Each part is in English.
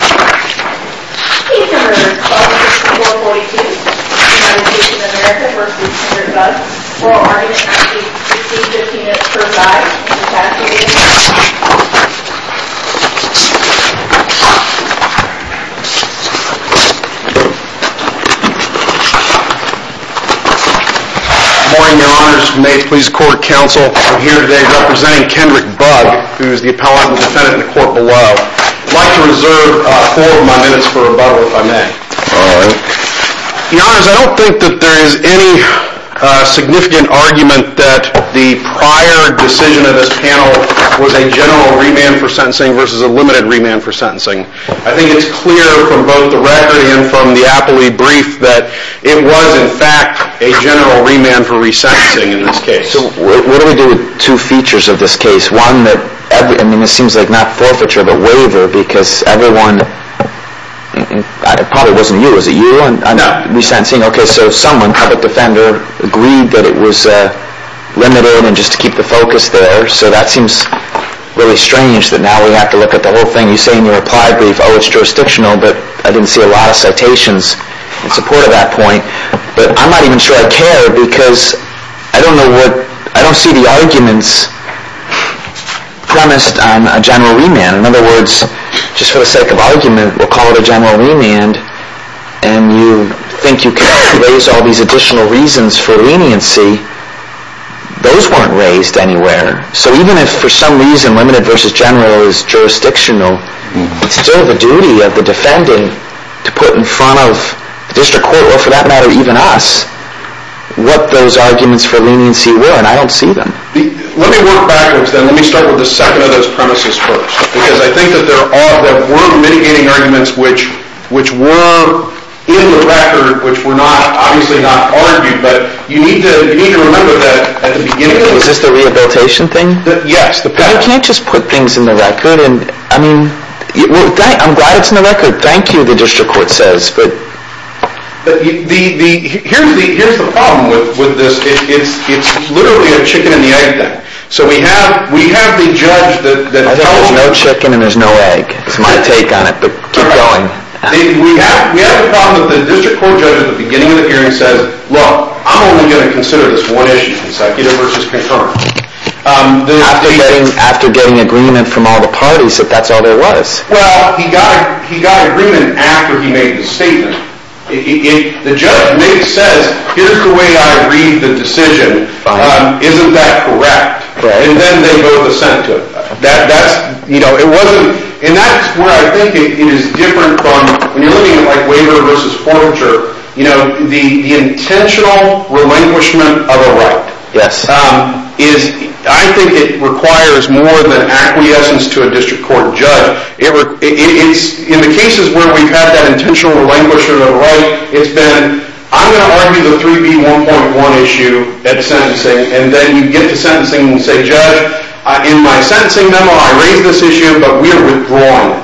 Good morning, your honors. May it please the court and counsel, I'm here today representing Kendrick Bugg, who is the appellant and defendant in the court below. I'd like to reserve four of my minutes for rebuttal, if I may. Your honors, I don't think that there is any significant argument that the prior decision of this panel was a general remand for sentencing versus a limited remand for sentencing. I think it's clear from both the record and from the Apley brief that it was, in fact, a general remand for resentencing in this case. So what do we do with two features of this case? One, I mean, it seems like not forfeiture, but waiver, because everyone, it probably wasn't you, was it you, resentencing? Okay, so someone, the defender, agreed that it was limited and just to keep the focus there. So that seems really strange that now we have to look at the whole thing. You say in your Apley brief, oh, it's jurisdictional, but I didn't see a lot of citations in support of that point, but I'm not even sure I care, because I don't know what, I don't see the arguments premised on a general remand. In other words, just for the sake of argument, we'll call it a general remand, and you think you can't raise all these additional reasons for leniency. Those weren't raised anywhere. So even if for some reason limited versus general is jurisdictional, it's still the duty of the defending to put in front of the court, or for that matter, even us, what those arguments for leniency were, and I don't see them. Let me work backwards then. Let me start with the second of those premises first, because I think that there are, there were mitigating arguments which were in the record, which were not, obviously not argued, but you need to remember that at the beginning. Is this the rehabilitation thing? Yes. You can't just put things in the record, and I am glad it's in the record. Thank you, the district court says, but. Here's the problem with this. It's literally a chicken and the egg thing. So we have, we have the judge that tells us. There's no chicken and there's no egg. It's my take on it, but keep going. We have the problem that the district court judge at the beginning of the hearing says, look, I'm only going to consider this one issue, consecutive versus concurrent. After getting agreement from all the parties that that's all there was. Well, he got, he got agreement after he made the statement. The judge maybe says, here's the way I read the decision. Isn't that correct? Right. And then they go to the Senate to it. That, that's, you know, it wasn't, and that's where I think it is different from, when you're looking at like waiver versus forfeiture, you know, the intentional relinquishment of a right. Yes. Is, I think it requires more than acquiescence to a district court judge. It's, in the cases where we've had that intentional relinquishment of a right, it's been, I'm going to argue the 3B1.1 issue at sentencing. And then you get to sentencing and say, judge, in my sentencing memo I raised this issue, but we are withdrawing it.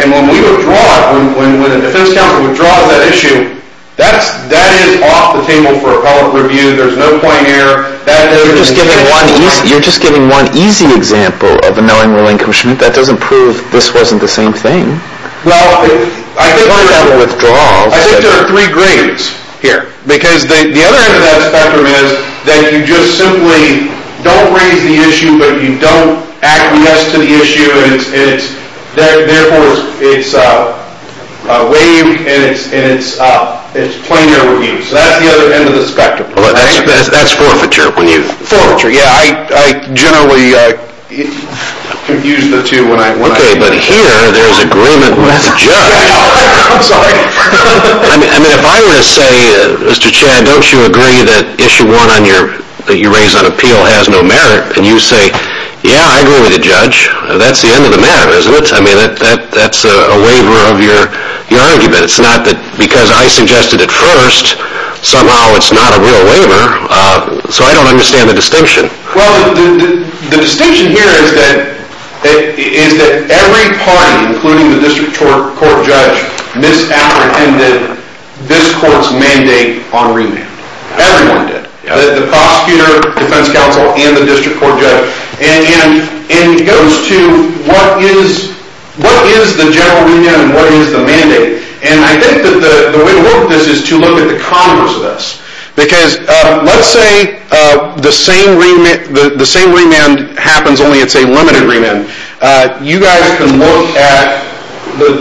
And when we withdraw it, when the defense counsel withdraws that issue, that's, that is off the table for appellate review. There's no You're just giving one easy, you're just giving one easy example of a knowing relinquishment. That doesn't prove this wasn't the same thing. Well, I think there are three grades here. Because the other end of that spectrum is that you just simply don't raise the issue, but you don't acquiesce to the issue, and it's, therefore it's waived and it's, it's the other end of the spectrum. That's forfeiture when you Forfeiture, yeah, I generally confuse the two when I Okay, but here there's agreement with the judge. I mean, if I were to say, Mr. Chad, don't you agree that issue one on your, that you raised on appeal has no merit, and you say, yeah, I agree with the judge, that's the end of the merit, isn't it? I mean, that's a waiver of your argument. It's not that, because I suggested it first, somehow it's not a real waiver, so I don't understand the distinction. Well, the distinction here is that, is that every party, including the district court judge, misapprehended this court's mandate on remand. Everyone did. The prosecutor, defense counsel, and the district court judge, and it goes to what is, what is the general remand and what is the mandate, and I think that the way to work this is to look at the converse of this, because let's say the same remand, the same remand happens, only it's a limited remand. You guys can look at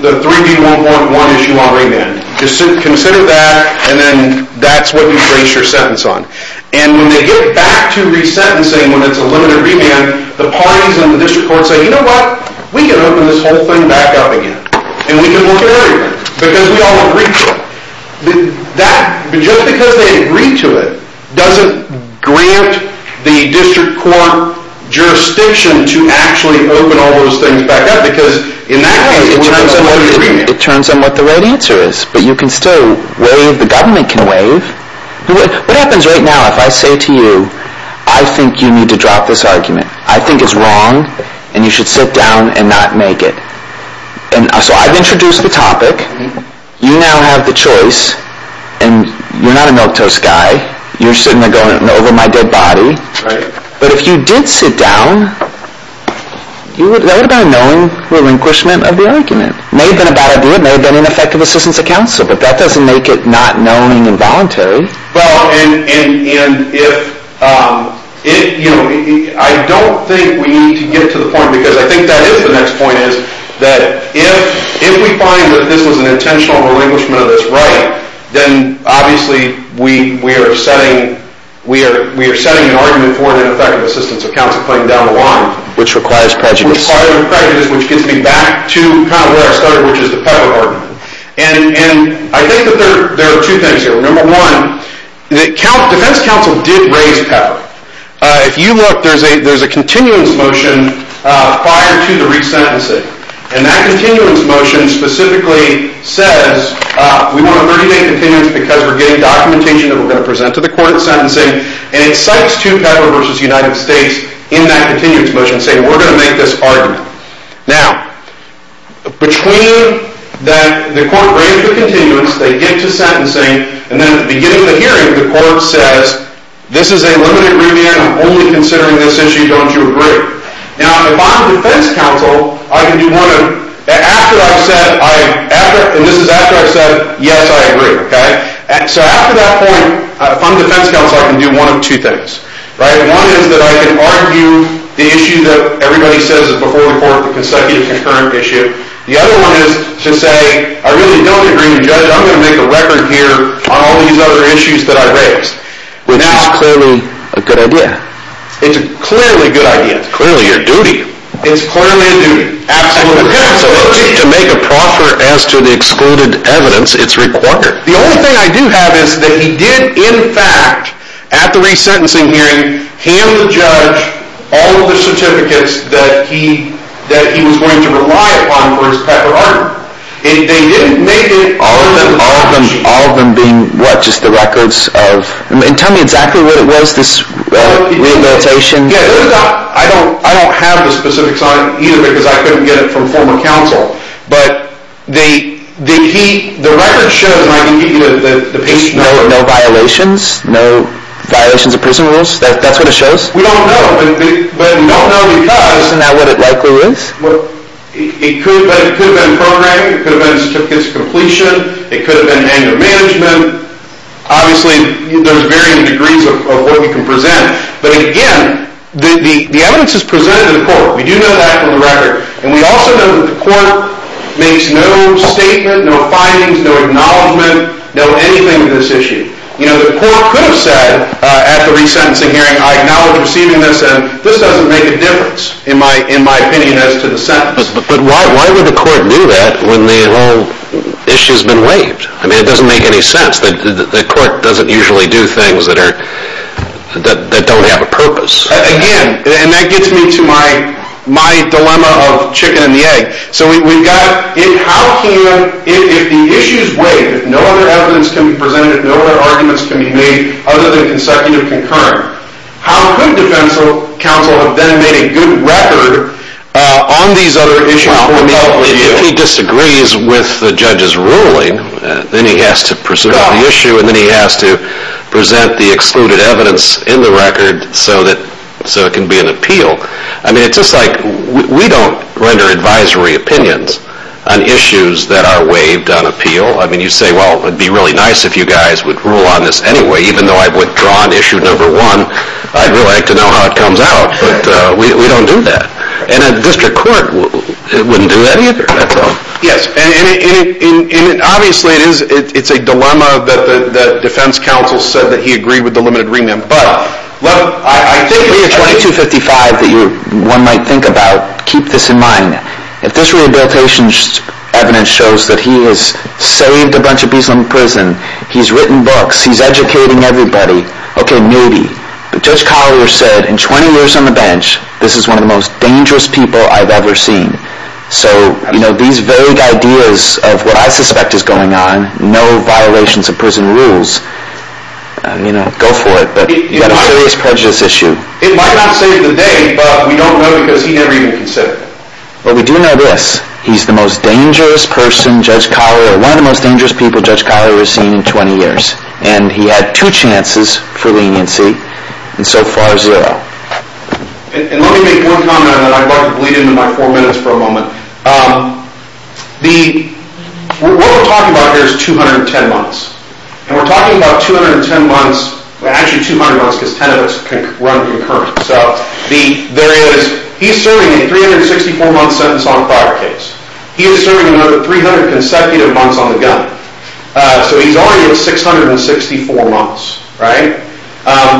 the 3B1.1 issue on remand. Consider that, and then that's what you base your sentence on, and when they get back to resentencing when it's a limited remand, the parties in the district court say, you know what, we can open this whole thing back up again, and we can look at everything, because we all agree to it. That, just because they agree to it, doesn't grant the district court jurisdiction to actually open all those things back up, because in that case, it turns on what the remand is. But you can still waive, the government can waive. What happens right now if I say to you, I think you need to drop this argument. I think it's wrong, and you should sit down and not make it. And so I've introduced the topic, you now have the choice, and you're not a milquetoast guy, you're sitting there going over my dead body, but if you did sit down, that would have been a knowing relinquishment of the argument. May have been a bad idea, may have been ineffective assistance of counsel, but that doesn't make it not knowing involuntary. Well, and if, you know, I don't think we need to get to the point, because I think that is the next point, is that if we find that this was an intentional relinquishment of this right, then obviously we are setting an argument for an ineffective assistance of counsel claim down the line. Which requires prejudice. Requires prejudice, which gets me back to kind of where I started, which is the Pepper argument. And I think that there are two things here. Number one, the defense counsel did raise Pepper. If you look, there's a continuance motion prior to the resentencing, and that continuance motion specifically says, we want a 30-day continuance because we're getting documentation that we're going to present to the court in sentencing, and it cites two States in that continuance motion saying, we're going to make this argument. Now, between that the court raises the continuance, they get to sentencing, and then at the beginning of the hearing, the court says, this is a limited remand, I'm only considering this issue, don't you agree? Now, if I'm defense counsel, I can do one of, after I've said, and this is after I've said, yes, I agree, okay? So after that point, if I'm defense counsel, I can do one of two things, right? One is that I can argue the issue that everybody says is before the court, the consecutive concurrent issue. The other one is to say, I really don't agree with the judge, I'm going to make a record here on all these other issues that I raised. Which is clearly a good idea. It's clearly a good idea. It's clearly your duty. It's clearly a duty. Absolutely. To make a proffer as to the excluded evidence, it's required. The only thing I do have is that he did, in fact, at the re-sentencing hearing, hand the judge all of the certificates that he was going to rely upon for his proper argument. And they didn't make it. All of them being what, just the records of, and tell me exactly what it was, this rehabilitation? Yeah, I don't have the specifics on it either because I couldn't get it from former counsel. But the key, the record shows, and I can give you the patient. No violations? No violations of prison rules? That's what it shows? We don't know. But we don't know because. Isn't that what it likely was? It could have been programming. It could have been certificates of completion. It could have been annual management. Obviously, there's varying degrees of what we can present. But again, the evidence is presented to the court. We do know that from the record. And we also know that the court makes no statement, no findings, no acknowledgment, no anything of this issue. You know, the court could have said at the re-sentencing hearing, I acknowledge receiving this, and this doesn't make a difference, in my opinion, as to the sentence. But why would the court do that when the whole issue has been waived? I mean, it doesn't make any sense. The court doesn't usually do things that are, that don't have a purpose. Again, and that gets me to my dilemma of chicken and the egg. So we've got, how can, if the issue is waived, no other evidence can be presented, no other arguments can be made other than consecutive concurrent, how could defense counsel have then made a good record on these other issues? If he disagrees with the judge's ruling, then he has to pursue the issue, and then he has to present the excluded evidence in the record so it can be an appeal. I mean, it's just like, we don't render advisory opinions on issues that are waived on appeal. I mean, you say, well, it would be really nice if you guys would rule on this anyway. Even though I've withdrawn issue number one, I'd really like to know how it comes out. But we don't do that. And a district court wouldn't do that either. Yes, and obviously it's a dilemma that defense counsel said that he agreed with the limited remand. But I think the 2255 that one might think about, keep this in mind, if this rehabilitation evidence shows that he has saved a bunch of people in prison, he's written books, he's educating everybody, okay, maybe. But Judge Collier said in 20 years on the bench, this is one of the most dangerous people I've ever seen. So, you know, these vague ideas of what I suspect is going on, no violations of prison rules, you know, go for it, but you've got a serious prejudice issue. It might not save the day, but we don't know because he never even considered it. But we do know this, he's the most dangerous person, Judge Collier, one of the most dangerous people Judge Collier has seen in 20 years. And he had two chances for leniency, and so far, zero. And let me make one comment that I'd like to bleed into my four minutes for a moment. The, what we're talking about here is 210 months. And we're talking about 210 months, well, actually 200 months because 10 of us run concurrent. So, there is, he's serving a 364-month sentence on a prior case. He is serving another 300 consecutive months on the gun. So he's already at 664 months, right?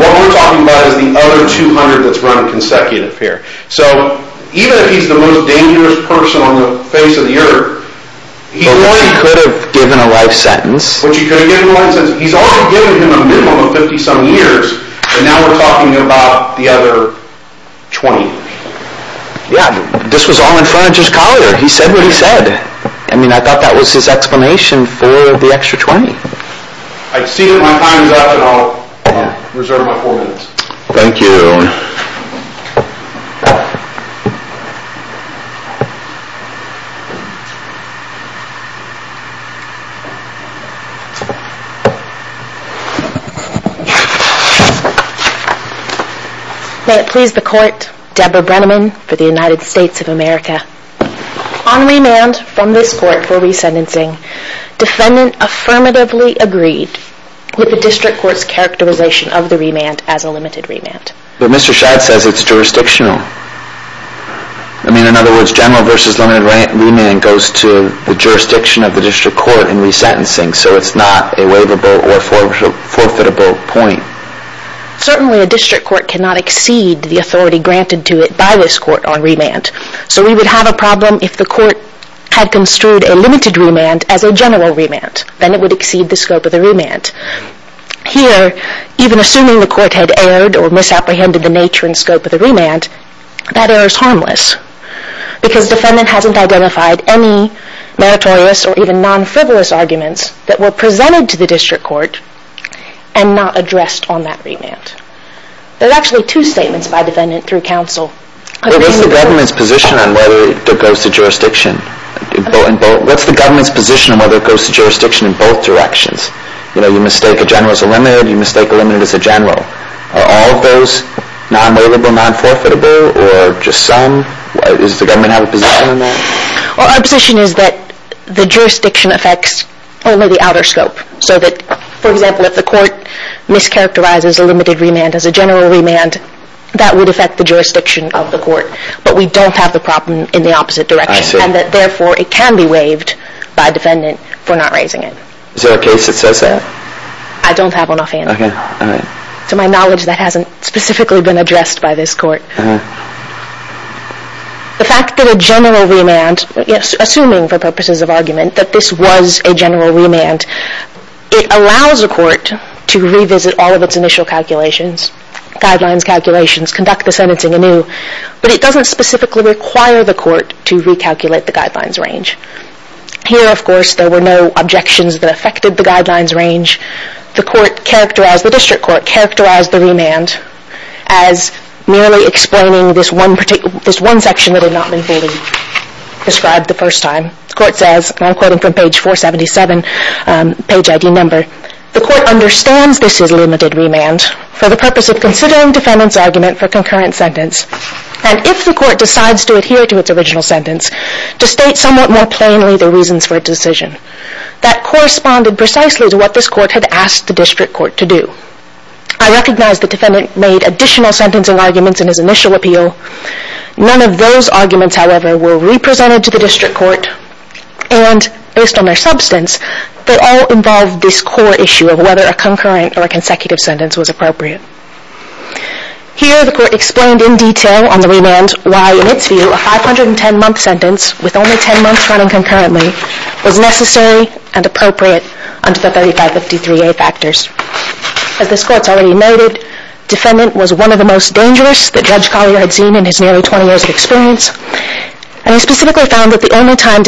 What we're talking about is the other 200 that's run consecutive here. So, even if he's the most dangerous person on the face of the earth, he could have given a life sentence. He's already given him a minimum of 50-some years, and now we're talking about the other 20. Yeah, this was all in front of Judge Collier. He said what he said. I mean, I thought that was his explanation for the extra 20. I see that my time is up, and I'll reserve my four minutes. Thank you. May it please the Court, Deborah Brenneman for the United States of America. On remand from this Court for resentencing, defendant affirmatively agreed with the District Court's characterization of the remand as a limited remand. But Mr. Shad says it's jurisdictional. I mean, in other words, general versus limited remand goes to the jurisdiction of the District Court in resentencing, so it's not a waivable or forfeitable point. Certainly, a District Court cannot exceed the authority granted to it by this Court on remand. So we would have a problem if the Court had construed a limited remand as a general remand. Then it would exceed the scope of the remand. Here, even assuming the Court had erred or misapprehended the nature and scope of the remand, that error is harmless because defendant hasn't identified any meritorious or even non-frivolous arguments that were presented to the District Court and not addressed on that remand. There's actually two statements by defendant through counsel. What's the government's position on whether it goes to jurisdiction? What's the government's position on whether it goes to jurisdiction in both directions? You know, you mistake a general as a limited, you mistake a limited as a general. Are all of those non-waivable, non-forfeitable, or just some? Does the government have a position on that? Our position is that the jurisdiction affects only the outer scope, so that, for example, if the Court mischaracterizes a limited remand as a general remand, that would affect the jurisdiction of the Court. But we don't have the problem in the opposite direction, and that, therefore, it can be waived by defendant for not raising it. Is there a case that says that? I don't have one offhand. To my knowledge, that hasn't specifically been addressed by this Court. The fact that a general remand, assuming for purposes of argument that this was a general remand, it allows a Court to revisit all of its initial calculations, guidelines, calculations, conduct the sentencing anew, but it doesn't specifically require the Court to recalculate the guidelines range. Here, of course, there were no objections that affected the guidelines range. The District Court characterized the remand as merely explaining this one section that had not been fully described the first time. The Court says, and I'm quoting from page 477, page ID number, the Court understands this is limited remand for the purpose of considering defendant's argument for concurrent sentence, and if the Court decides to adhere to its original sentence, to state somewhat more plainly the reasons for its decision. That corresponded precisely to what this Court had asked the District Court to do. I recognize the defendant made additional sentencing arguments in his initial appeal. None of those arguments, however, were represented to the District Court, and based on their substance, they all involved this core issue of whether a concurrent or a consecutive sentence was appropriate. Here, the Court explained in detail on the remand why, in its view, a 510-month sentence with only 10 months running concurrently was necessary and appropriate under the 3553A factors. As this Court's already noted, defendant was one of the most dangerous that Judge Collier had seen in his nearly 20 years of experience, and he specifically found that the only time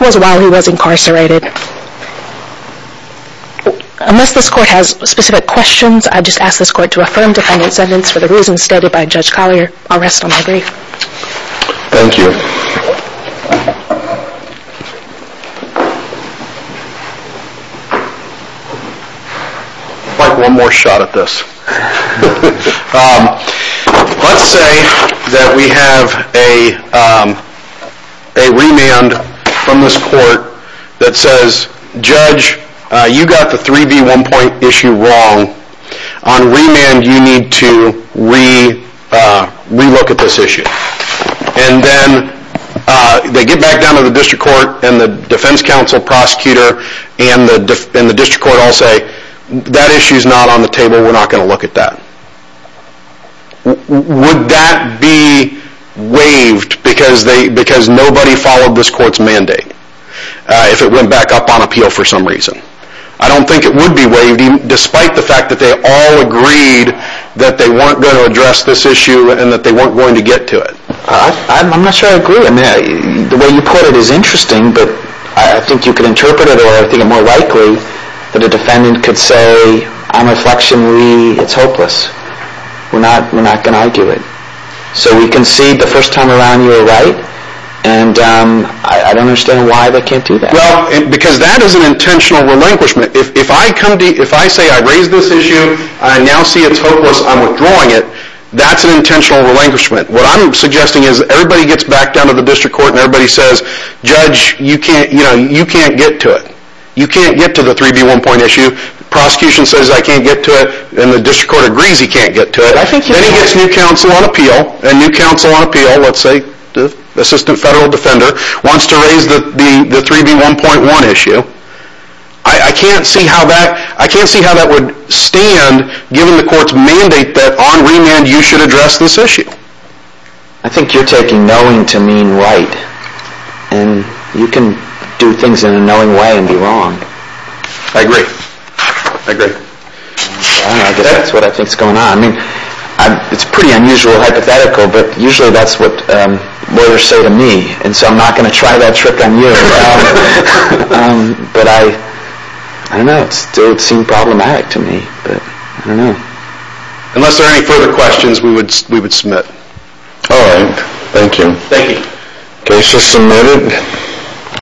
was while he was incarcerated. Unless this Court has specific questions, I just ask this Court to affirm defendant's sentence for the reasons stated by Judge Collier. I'll rest on my brief. Thank you. I'd like one more shot at this. Let's say that we have a remand from this Court that says, Judge, you got the 3B one-point issue wrong. On remand, you need to re-look at this issue. And then they get back down to the District Court and the Defense Counsel, Prosecutor, and the District Court all say, that issue is not on the table. We're not going to look at that. Would that be waived because nobody followed this Court's mandate if it went back up on appeal for some reason? I don't think it would be waived, despite the fact that they all agreed that they weren't going to address this issue and that they weren't going to get to it. I'm not sure I agree. The way you put it is interesting, but I think you could interpret it, I think it's more likely that a defendant could say, on reflection, it's hopeless. We're not going to argue it. So we concede the first time around you were right, and I don't understand why they can't do that. Because that is an intentional relinquishment. If I say I raised this issue, I now see it's hopeless, I'm withdrawing it, that's an intentional relinquishment. What I'm suggesting is everybody gets back down to the District Court and everybody says, Judge, you can't get to it. You can't get to the 3B1.1 issue. Prosecution says I can't get to it, and the District Court agrees he can't get to it. Then he gets new counsel on appeal, and new counsel on appeal, let's say the Assistant Federal Defender, wants to raise the 3B1.1 issue. I can't see how that would stand, given the Court's mandate that on remand you should address this issue. I think you're taking knowing to mean right, and you can do things in a knowing way and be wrong. I agree. I agree. I guess that's what I think is going on. I mean, it's pretty unusual hypothetical, but usually that's what lawyers say to me, and so I'm not going to try that trick on you. But I don't know. It would seem problematic to me, but I don't know. Unless there are any further questions, we would submit. All right. Thank you. Thank you. Case is submitted.